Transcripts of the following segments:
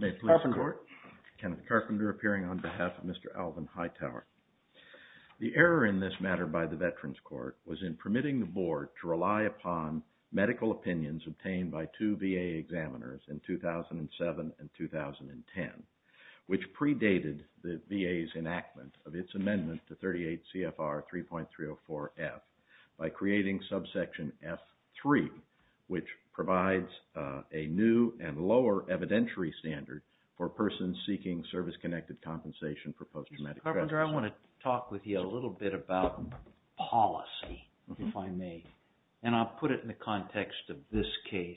May it please the court. Kenneth Carpenter appearing on behalf of Mr. Alvin Hightower. The error in this matter by the Veterans Court was in permitting the board to rely upon medical opinions obtained by two VA examiners in 2007 and 2010, which predated the VA's enactment of its amendment to 38C. CFR 3.304F by creating subsection F3, which provides a new and lower evidentiary standard for persons seeking service-connected compensation for post-traumatic stress disorder. Mr. Carpenter, I want to talk with you a little bit about policy, if I may, and I'll put it in the context of this case.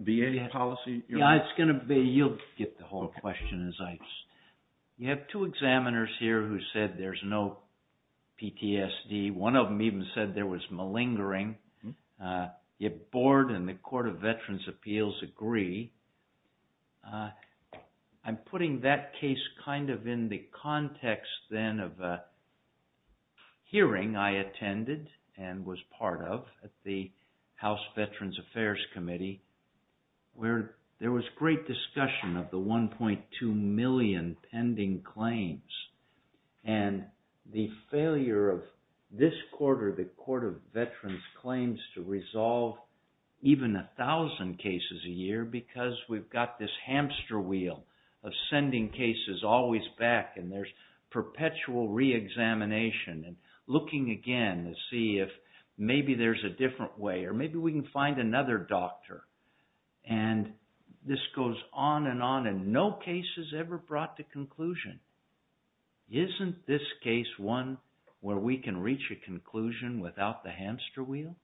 VA policy? You'll get the whole question. You have two examiners here who said there's no PTSD. One of them even said there was malingering. The board and the Court of Veterans' Appeals agree. I'm putting that case kind of in the context then of a hearing I attended and was part of at the House Veterans Affairs Committee, where there was great discussion of the 1.2 million pending claims. The failure of this quarter, the Court of Veterans' claims to resolve even 1,000 cases a year because we've got this hamster wheel of sending cases always back and there's perpetual re-examination and looking again to see if maybe there's a different way or maybe we can find another doctor. And this goes on and on and no case is ever brought to conclusion. Isn't this case one where we can reach a conclusion without the hamster wheel?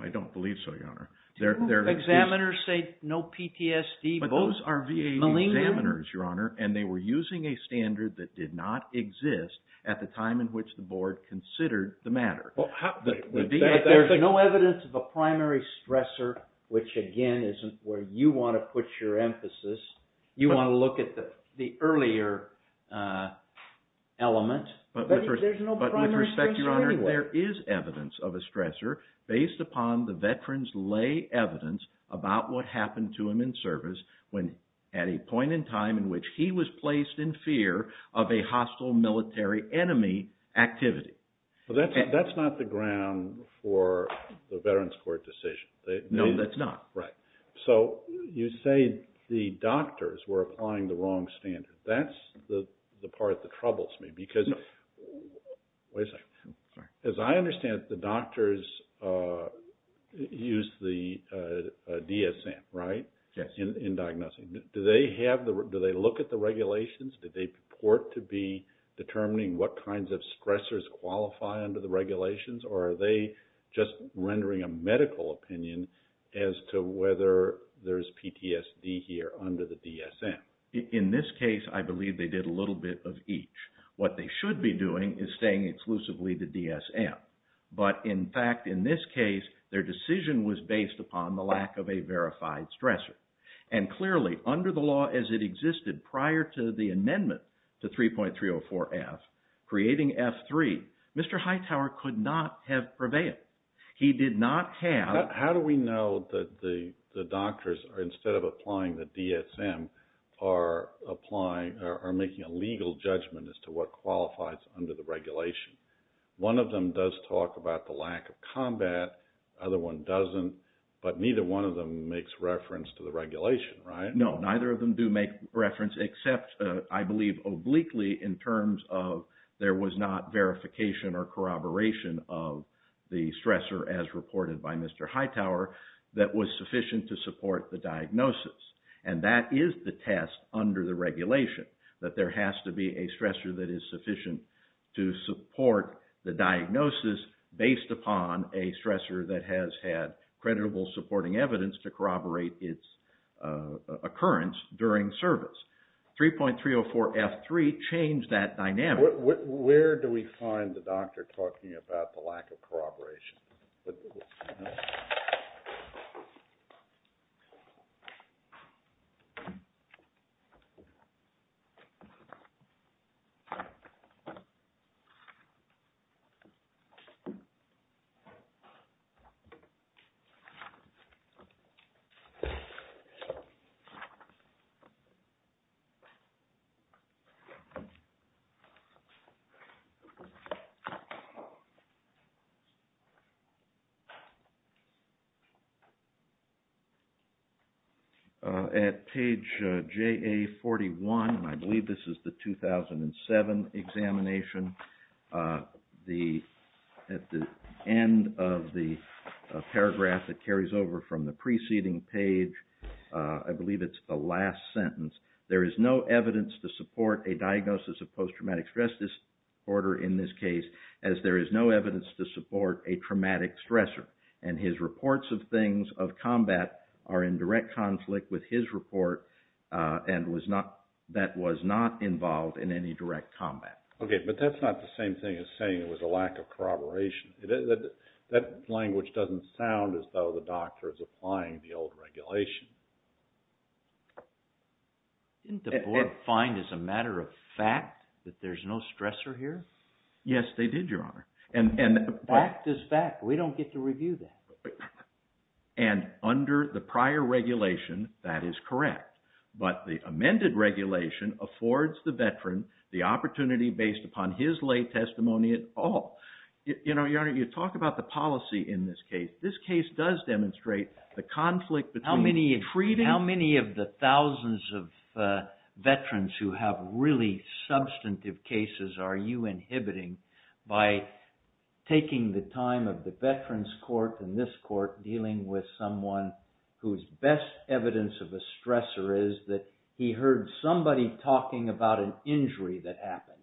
I don't believe so, Your Honor. Two examiners say no PTSD, both are malingering. But those are VA examiners, Your Honor, and they were using a standard that did not exist at the time in which the board considered the matter. There's no evidence of a primary stressor, which again isn't where you want to put your emphasis. You want to look at the earlier element. But with respect, Your Honor, there is evidence of a stressor based upon the veterans' lay evidence about what happened to him in service at a point in time in which he was placed in fear of a hostile military enemy activity. But that's not the ground for the veterans' court decision. No, that's not. Right. So you say the doctors were applying the wrong standard. That's the part that troubles me because – wait a second. As I understand it, the doctors used the DSM, right, in diagnosing. Do they look at the regulations? Do they report to be determining what kinds of stressors qualify under the regulations? Or are they just rendering a medical opinion as to whether there's PTSD here under the DSM? In this case, I believe they did a little bit of each. What they should be doing is staying exclusively the DSM. But in fact, in this case, their decision was based upon the lack of a verified stressor. And clearly, under the law as it existed prior to the amendment to 3.304F, creating F3, Mr. Hightower could not have prevailed. He did not have – How do we know that the doctors, instead of applying the DSM, are making a legal judgment as to what qualifies under the regulation? One of them does talk about the lack of combat. The other one doesn't. But neither one of them makes reference to the regulation, right? No, neither of them do make reference except, I believe, obliquely in terms of there was not verification or corroboration of the stressor, as reported by Mr. Hightower, that was sufficient to support the diagnosis. And that is the test under the regulation, that there has to be a stressor that is sufficient to support the diagnosis based upon a stressor that has had credible supporting evidence to corroborate its occurrence during service. 3.304F3 changed that dynamic. Where do we find the doctor talking about the lack of corroboration? Okay. At page JA41, and I believe this is the 2007 examination, at the end of the paragraph that carries over from the preceding page, I believe it's the last sentence, there is no evidence to support a diagnosis of post-traumatic stress disorder in this case, as there is no evidence to support a traumatic stressor. And his reports of things of combat are in direct conflict with his report, and that was not involved in any direct combat. Okay, but that's not the same thing as saying it was a lack of corroboration. That language doesn't sound as though the doctor is applying the old regulation. Didn't the board find as a matter of fact that there's no stressor here? Yes, they did, Your Honor. Fact is fact. We don't get to review that. And under the prior regulation, that is correct. But the amended regulation affords the veteran the opportunity based upon his lay testimony at all. You know, Your Honor, you talk about the policy in this case. This case does demonstrate the conflict between the treatment... How many of the thousands of veterans who have really substantive cases are you inhibiting by taking the time of the veterans court and this court dealing with someone whose best evidence of a stressor is that he heard somebody talking about an injury that happened?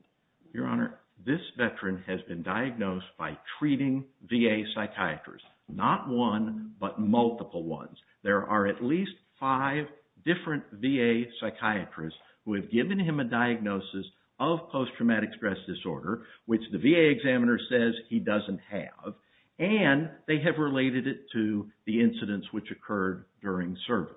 Your Honor, this veteran has been diagnosed by treating VA psychiatrists. Not one, but multiple ones. There are at least five different VA psychiatrists who have given him a diagnosis of post-traumatic stress disorder, which the VA examiner says he doesn't have, and they have related it to the incidents which occurred during service.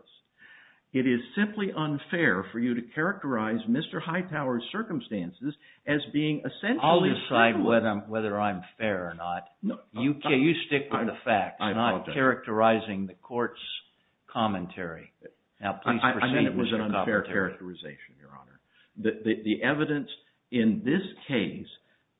It is simply unfair for you to characterize Mr. Hightower's circumstances as being essentially... I'll decide whether I'm fair or not. You stick with the facts, not characterizing the court's commentary. Now, please proceed, Mr. Commentary. The evidence in this case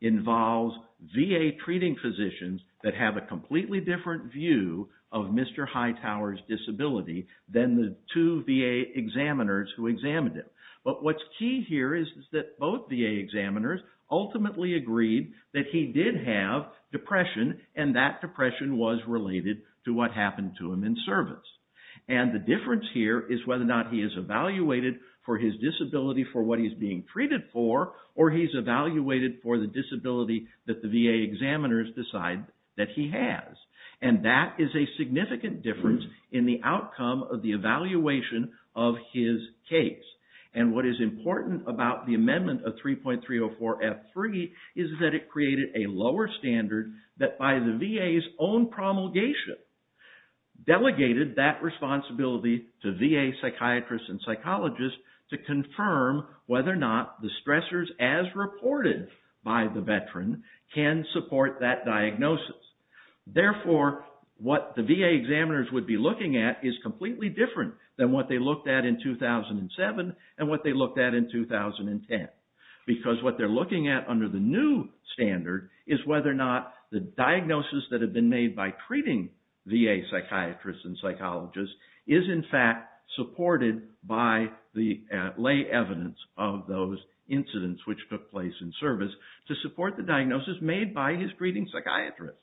involves VA treating physicians that have a completely different view of Mr. Hightower's disability than the two VA examiners who examined him. But what's key here is that both VA examiners ultimately agreed that he did have depression, and that depression was related to what happened to him in service. And the difference here is whether or not he is evaluated for his disability for what he's being treated for, or he's evaluated for the disability that the VA examiners decide that he has. And that is a significant difference in the outcome of the evaluation of his case. And what is important about the amendment of 3.304F3 is that it created a lower standard that by the VA's own promulgation, delegated that responsibility to VA psychiatrists and psychologists to confirm whether or not the stressors as reported by the veteran can support that diagnosis. Therefore, what the VA examiners would be looking at is completely different than what they looked at in 2007 and what they looked at in 2010. Because what they're looking at under the new standard is whether or not the diagnosis that had been made by treating VA psychiatrists and psychologists is in fact supported by the lay evidence of those incidents which took place in service to support the diagnosis made by his treating psychiatrist.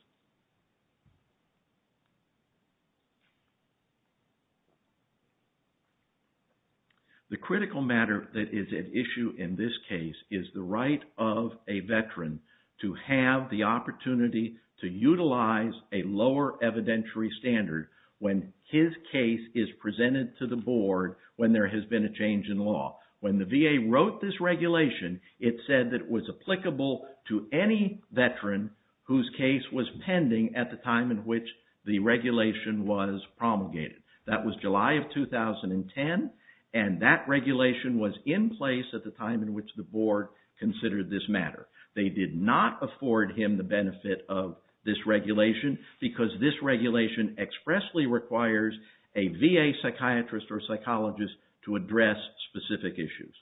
The critical matter that is at issue in this case is the right of a veteran to have the opportunity to utilize a lower evidentiary standard when his case is presented to the board when there has been a change in law. When the VA wrote this regulation, it said that it was applicable to any veteran whose case was pending at the time in which the regulation was promulgated. That was July of 2010, and that regulation was in place at the time in which the board considered this matter. They did not afford him the benefit of this regulation because this regulation expressly requires a VA psychiatrist or psychologist to address specific issues.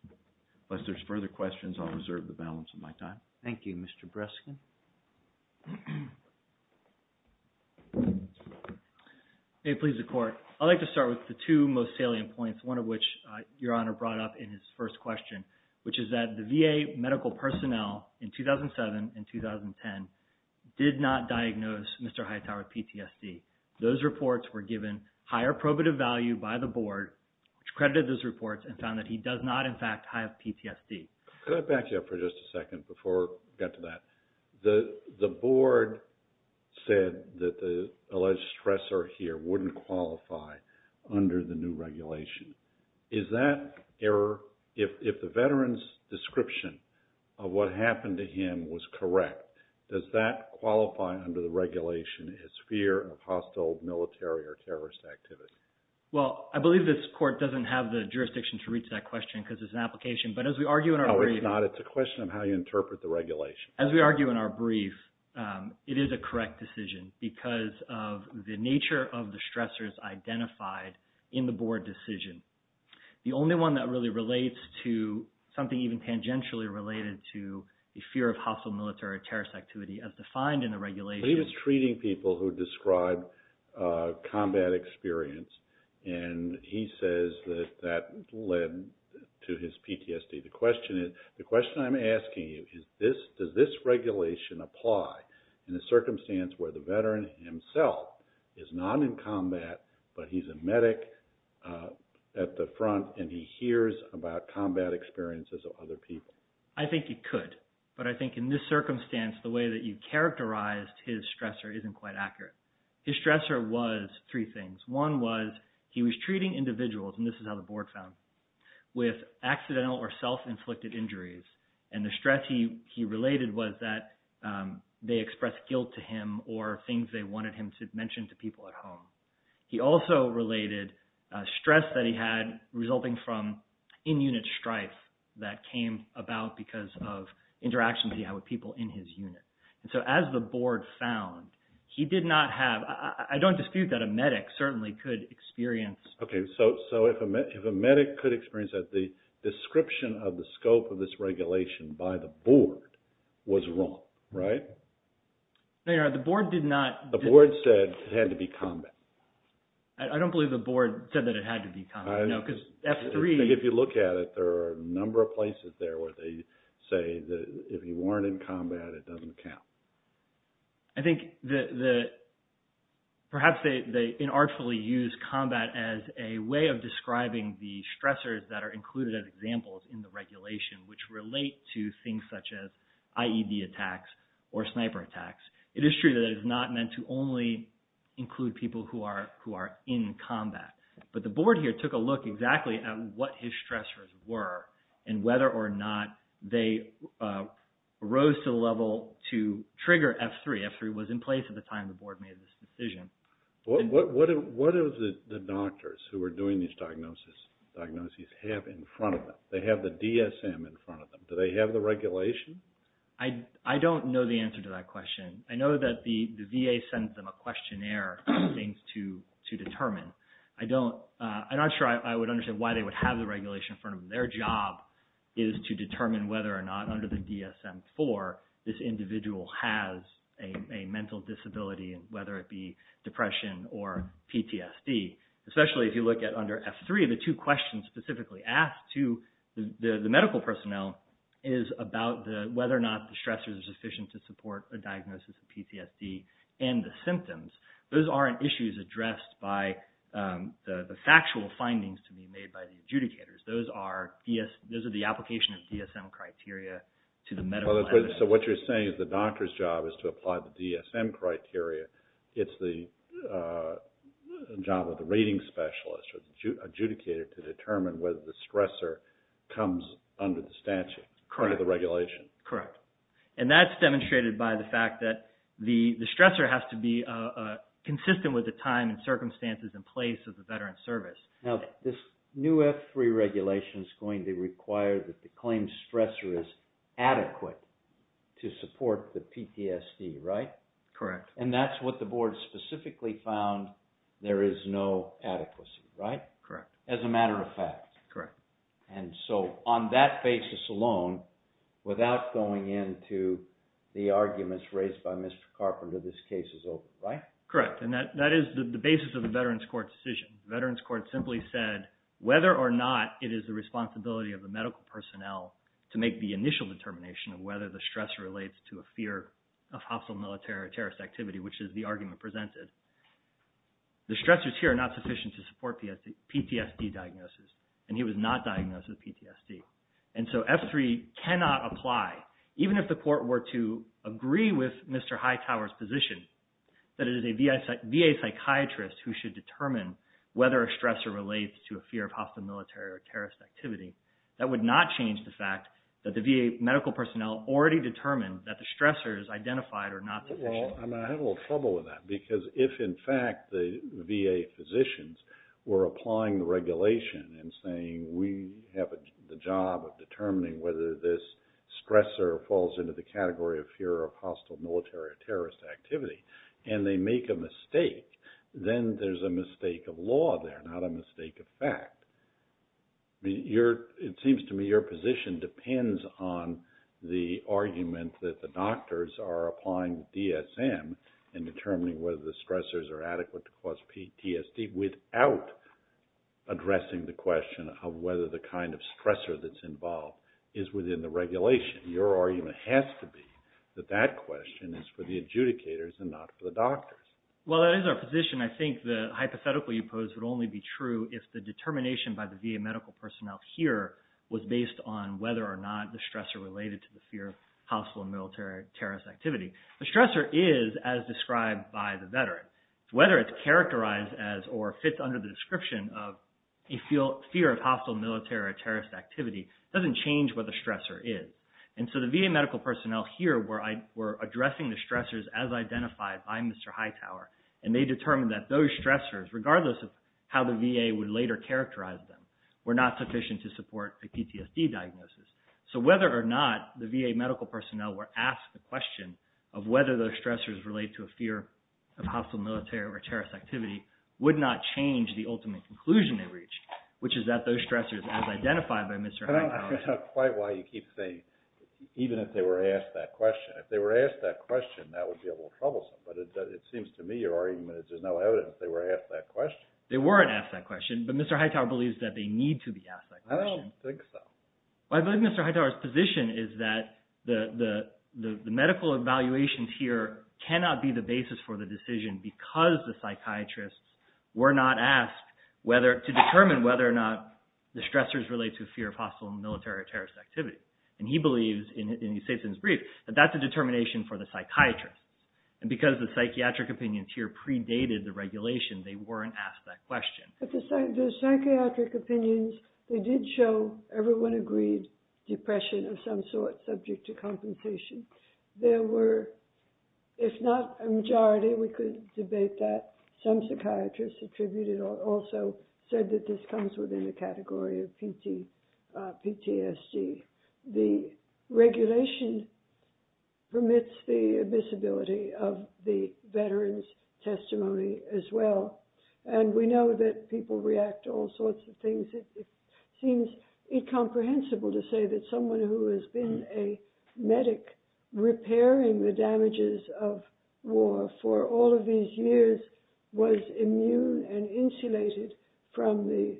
Unless there's further questions, I'll reserve the balance of my time. Thank you, Mr. Breskin. May it please the Court. I'd like to start with the two most salient points, one of which Your Honor brought up in his first question, which is that the VA medical personnel in 2007 and 2010 did not diagnose Mr. Hightower with PTSD. Those reports were given higher probative value by the board which credited those reports and found that he does not in fact have PTSD. Could I back you up for just a second before we get to that? The board said that the alleged stressor here wouldn't qualify under the new regulation. Is that error, if the veteran's description of what happened to him was correct, does that qualify under the regulation as fear of hostile military or terrorist activity? Well, I believe this Court doesn't have the jurisdiction to reach that question because it's an application, but as we argue in our brief… No, it's not. It's a question of how you interpret the regulation. As we argue in our brief, it is a correct decision because of the nature of the stressors identified in the board decision. The only one that really relates to something even tangentially related to the fear of hostile military or terrorist activity as defined in the regulation… He's treating people who describe combat experience and he says that that led to his PTSD. The question I'm asking you is, does this regulation apply in a circumstance where the veteran himself is not in combat, but he's a medic at the front and he hears about combat experiences of other people? I think it could, but I think in this circumstance, the way that you characterized his stressor isn't quite accurate. His stressor was three things. One was he was treating individuals, and this is how the board found, with accidental or self-inflicted injuries, and the stress he related was that they expressed guilt to him or things they wanted him to mention to people at home. He also related stress that he had resulting from in-unit strife that came about because of interactions he had with people in his unit. And so as the board found, he did not have – I don't dispute that a medic certainly could experience… Okay. So if a medic could experience that, the description of the scope of this regulation by the board was wrong, right? The board did not… The board said it had to be combat. I don't believe the board said that it had to be combat, no, because F3… I think if you look at it, there are a number of places there where they say that if he weren't in combat, it doesn't count. I think perhaps they inartfully used combat as a way of describing the stressors that are included as examples in the regulation, which relate to things such as IED attacks or sniper attacks. It is true that it is not meant to only include people who are in combat, but the board here took a look exactly at what his stressors were and whether or not they rose to the level to trigger F3. F3 was in place at the time the board made this decision. What do the doctors who are doing these diagnoses have in front of them? They have the DSM in front of them. Do they have the regulation? I don't know the answer to that question. I know that the VA sent them a questionnaire of things to determine. I don't… I'm not sure I would understand why they would have the regulation in front of them. Their job is to determine whether or not under the DSM-IV, this individual has a mental disability, whether it be depression or PTSD. Especially if you look at under F3, the two questions specifically asked to the medical personnel is about whether or not the stressors are sufficient to support a diagnosis of PTSD and the symptoms. Those aren't issues addressed by the factual findings to be made by the adjudicators. Those are the application of DSM criteria to the medical evidence. What you're saying is the doctor's job is to apply the DSM criteria. It's the job of the rating specialist or the adjudicator to determine whether the stressor comes under the statute, under the regulation. Correct. That's demonstrated by the fact that the stressor has to be consistent with the time and circumstances in place of the veteran's service. Now, this new F3 regulation is going to require that the claimed stressor is adequate to support the PTSD, right? Correct. That's what the board specifically found there is no adequacy, right? Correct. As a matter of fact. Correct. On that basis alone, without going into the arguments raised by Mr. Carpenter, this case is over, right? Correct. That is the basis of the Veterans Court decision. Veterans Court simply said whether or not it is the responsibility of the medical personnel to make the initial determination of whether the stressor relates to a fear of hostile military or terrorist activity, which is the argument presented. The stressors here are not sufficient to support the PTSD diagnosis, and he was not diagnosed with PTSD. And so F3 cannot apply, even if the court were to agree with Mr. Hightower's position that it is a VA psychiatrist who should determine whether a stressor relates to a fear of hostile military or terrorist activity. That would not change the fact that the VA medical personnel already determined that the stressors identified are not sufficient. Well, I have a little trouble with that, because if in fact the VA physicians were applying the regulation and saying we have the job of determining whether this stressor falls into the category of fear of hostile military or terrorist activity, and they make a mistake, then there's a mistake of law there, not a mistake of fact. It seems to me your position depends on the argument that the doctors are applying DSM and determining whether the stressors are adequate to cause PTSD without addressing the question of whether the kind of stressor that's involved is within the regulation. Your argument has to be that that question is for the adjudicators and not for the doctors. Well, that is our position. I think the hypothetical you pose would only be true if the determination by the VA medical personnel here was based on whether or not the stressor related to the fear of hostile military or terrorist activity. The stressor is as described by the veteran. Whether it's characterized as or fits under the description of a fear of hostile military or terrorist activity doesn't change what the stressor is. And so the VA medical personnel here were addressing the stressors as identified by Mr. Hightower, and they determined that those stressors, regardless of how the VA would later characterize them, were not sufficient to support a PTSD diagnosis. So whether or not the VA medical personnel were asked the question of whether those stressors relate to a fear of hostile military or terrorist activity would not change the ultimate conclusion they reached, which is that those stressors as identified by Mr. Hightower… Even if they were asked that question. If they were asked that question, that would be a little troublesome, but it seems to me your argument is there's no evidence they were asked that question. They weren't asked that question, but Mr. Hightower believes that they need to be asked that question. I don't think so. Well, I believe Mr. Hightower's position is that the medical evaluations here cannot be the basis for the decision because the psychiatrists were not asked to determine whether or not the stressors relate to a fear of hostile military or terrorist activity. Mr. Hightower believes, in his brief, that that's a determination for the psychiatrists, and because the psychiatric opinions here predated the regulation, they weren't asked that question. The psychiatric opinions, they did show everyone agreed depression of some sort, subject to compensation. There were, if not a majority, we could debate that. Some psychiatrists attributed also said that this comes within the category of PTSD. The regulation permits the visibility of the veteran's testimony as well, and we know that people react to all sorts of things. It seems incomprehensible to say that someone who has been a medic repairing the damages of war for all of these years was immune and insulated from the,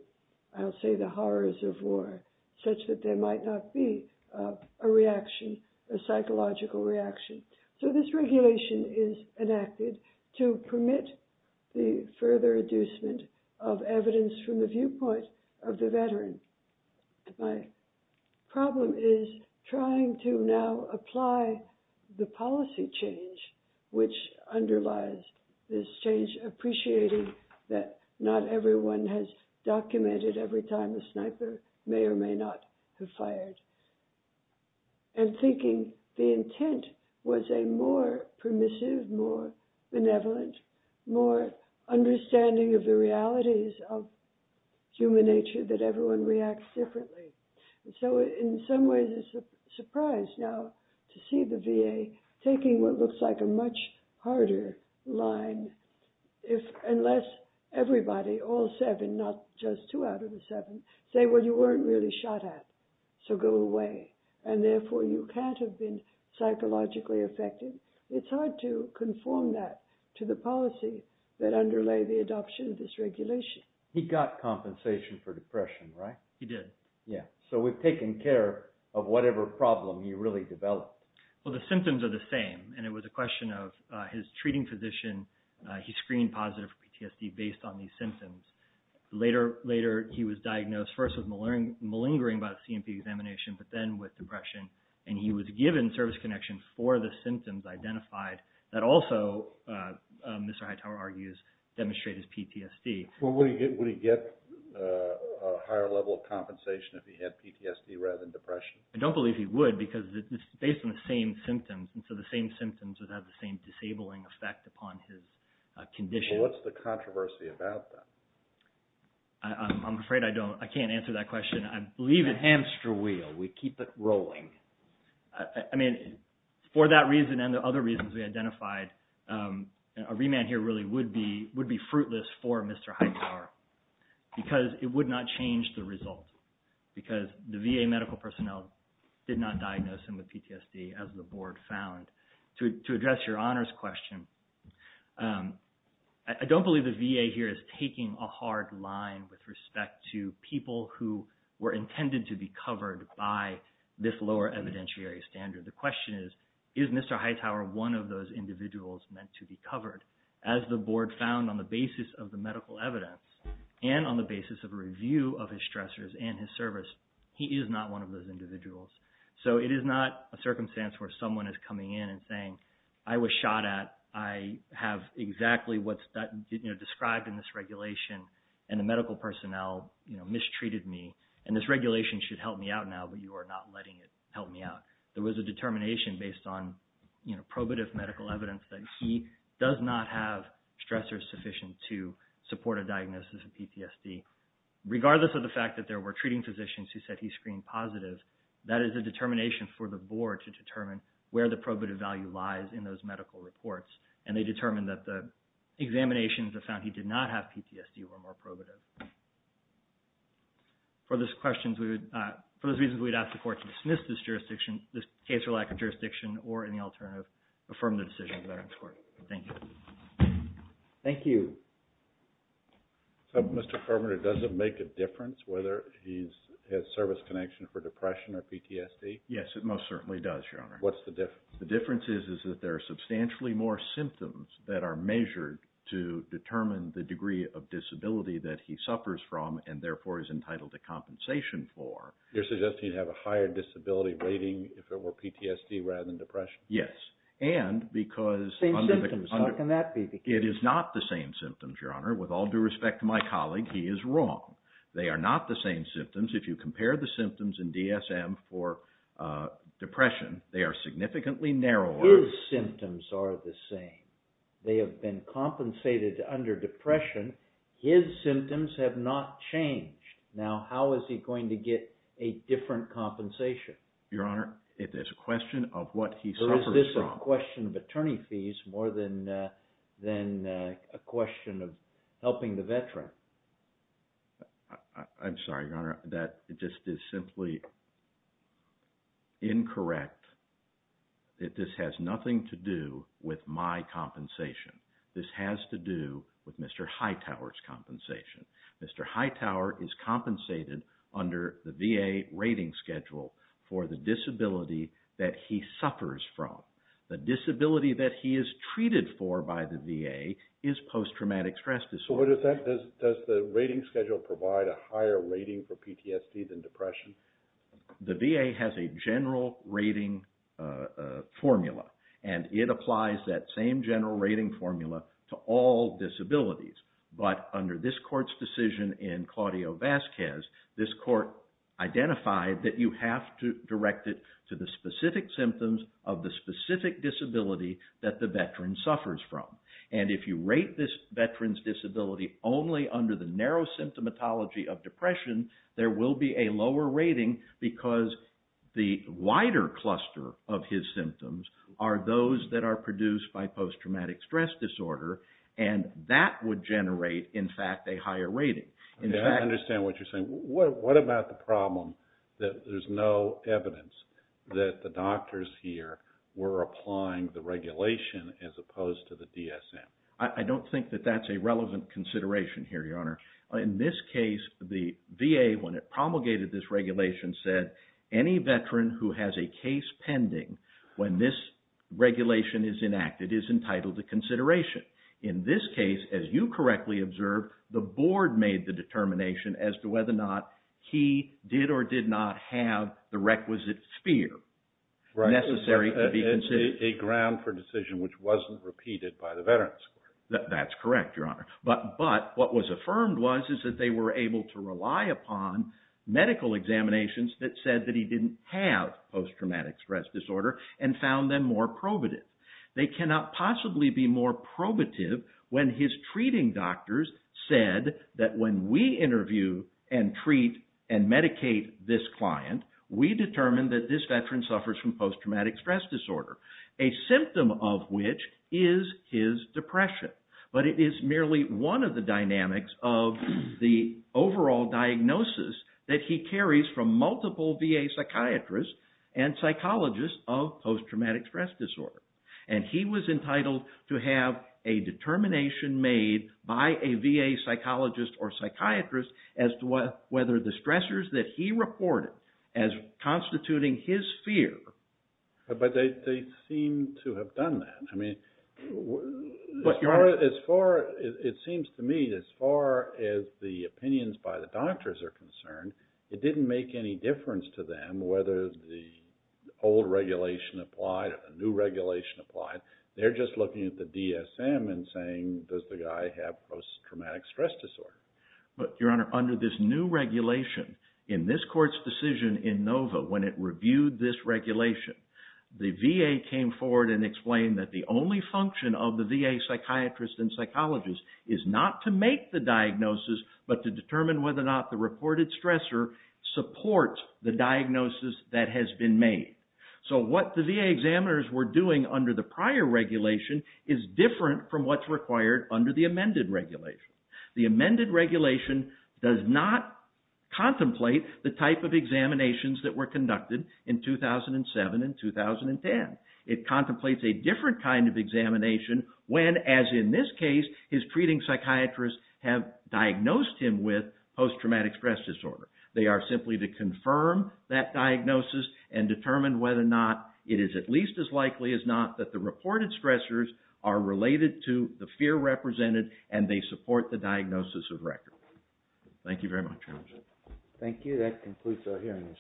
I'll say the horrors of war, such that there might not be a reaction, a psychological reaction. So this regulation is enacted to permit the further inducement of evidence from the viewpoint of the veteran. My problem is trying to now apply the policy change which underlies this change, appreciating that not everyone has documented every time a sniper may or may not have fired, and thinking the intent was a more permissive, more benevolent, more understanding of the realities of human nature that everyone reacts differently. So in some ways it's a surprise now to see the VA taking what looks like a much harder line, unless everybody, all seven, not just two out of the seven, say, well you weren't really shot at, so go away, and therefore you can't have been psychologically affected. It's hard to conform that to the policy that underlay the adoption of this regulation. He got compensation for depression, right? He did. Yeah. So we've taken care of whatever problem he really developed. Well, the symptoms are the same, and it was a question of his treating physician, he screened positive for PTSD based on these symptoms. Later he was diagnosed first with malingering by the C&P examination, but then with depression, and he was given service connection for the symptoms identified that also, Mr. Hightower argues, demonstrate his PTSD. Well, would he get a higher level of compensation if he had PTSD rather than depression? I don't believe he would because it's based on the same symptoms, and so the same symptoms would have the same disabling effect upon his condition. Well, what's the controversy about that? I'm afraid I can't answer that question. I believe it's… Hamster wheel. We keep it rolling. I mean, for that reason and the other reasons we identified, a remand here really would be fruitless for Mr. Hightower because it would not change the result because the VA medical personnel did not diagnose him with PTSD as the board found. To address your honors question, I don't believe the VA here is taking a hard line with respect to people who were intended to be covered by this lower evidentiary standard. The question is, is Mr. Hightower one of those individuals meant to be covered? As the board found on the basis of the medical evidence and on the basis of a review of his stressors and his service, he is not one of those individuals. So, it is not a circumstance where someone is coming in and saying, I was shot at. I have exactly what's described in this regulation, and the medical personnel mistreated me, and this regulation should help me out now, but you are not letting it help me out. There was a determination based on probative medical evidence that he does not have stressors sufficient to support a diagnosis of PTSD. So, regardless of the fact that there were treating physicians who said he screened positive, that is a determination for the board to determine where the probative value lies in those medical reports, and they determined that the examinations have found he did not have PTSD or more probative. For those reasons, we would ask the court to dismiss this case for lack of jurisdiction or any alternative affirmative decision of the Veterans Court. Thank you. Thank you. So, Mr. Furman, it doesn't make a difference whether he has service connection for depression or PTSD? Yes, it most certainly does, Your Honor. What's the difference? The difference is that there are substantially more symptoms that are measured to determine the degree of disability that he suffers from and therefore is entitled to compensation for. You're suggesting he'd have a higher disability rating if it were PTSD rather than depression? Yes, and because – Same symptoms. How can that be the case? It is not the same symptoms, Your Honor. With all due respect to my colleague, he is wrong. They are not the same symptoms. If you compare the symptoms in DSM for depression, they are significantly narrower. His symptoms are the same. They have been compensated under depression. His symptoms have not changed. Now, how is he going to get a different compensation? Your Honor, it is a question of what he suffers from. It is not a question of attorney fees more than a question of helping the veteran. I'm sorry, Your Honor. That just is simply incorrect. This has nothing to do with my compensation. This has to do with Mr. Hightower's compensation. Mr. Hightower is compensated under the VA rating schedule for the disability that he suffers from. The disability that he is treated for by the VA is post-traumatic stress disorder. Does the rating schedule provide a higher rating for PTSD than depression? The VA has a general rating formula, and it applies that same general rating formula to all disabilities. But under this court's decision in Claudio Vasquez, this court identified that you have to direct it to the specific symptoms of the specific disability that the veteran suffers from. And if you rate this veteran's disability only under the narrow symptomatology of depression, there will be a lower rating because the wider cluster of his symptoms are those that are produced by post-traumatic stress disorder. And that would generate, in fact, a higher rating. I understand what you're saying. What about the problem that there's no evidence that the doctors here were applying the regulation as opposed to the DSM? I don't think that that's a relevant consideration here, Your Honor. In this case, the VA, when it promulgated this regulation, said any veteran who has a case pending when this regulation is enacted is entitled to consideration. In this case, as you correctly observed, the board made the determination as to whether or not he did or did not have the requisite sphere necessary to be considered. A ground for decision which wasn't repeated by the Veterans Court. That's correct, Your Honor. But what was affirmed was that they were able to rely upon medical examinations that said that he didn't have post-traumatic stress disorder and found them more probative. They cannot possibly be more probative when his treating doctors said that when we interview and treat and medicate this client, we determine that this veteran suffers from post-traumatic stress disorder, a symptom of which is his depression. But it is merely one of the dynamics of the overall diagnosis that he carries from multiple VA psychiatrists and psychologists of post-traumatic stress disorder. And he was entitled to have a determination made by a VA psychologist or psychiatrist as to whether the stressors that he reported as constituting his fear... It seems to me, as far as the opinions by the doctors are concerned, it didn't make any difference to them whether the old regulation applied or the new regulation applied. They're just looking at the DSM and saying, does the guy have post-traumatic stress disorder? But, Your Honor, under this new regulation, in this Court's decision in Nova, when it reviewed this regulation, the VA came forward and explained that the only function of the VA psychiatrist and psychologist is not to make the diagnosis, but to determine whether or not the reported stressor supports the diagnosis that has been made. So what the VA examiners were doing under the prior regulation is different from what's required under the amended regulation. The amended regulation does not contemplate the type of examinations that were conducted in 2007 and 2010. It contemplates a different kind of examination when, as in this case, his treating psychiatrists have diagnosed him with post-traumatic stress disorder. They are simply to confirm that diagnosis and determine whether or not it is at least as likely as not that the reported stressors are related to the fear represented and they support the diagnosis of record. Thank you very much, Your Honor. Thank you. That concludes our hearing this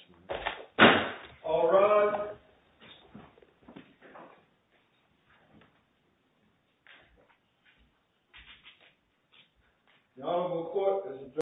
morning.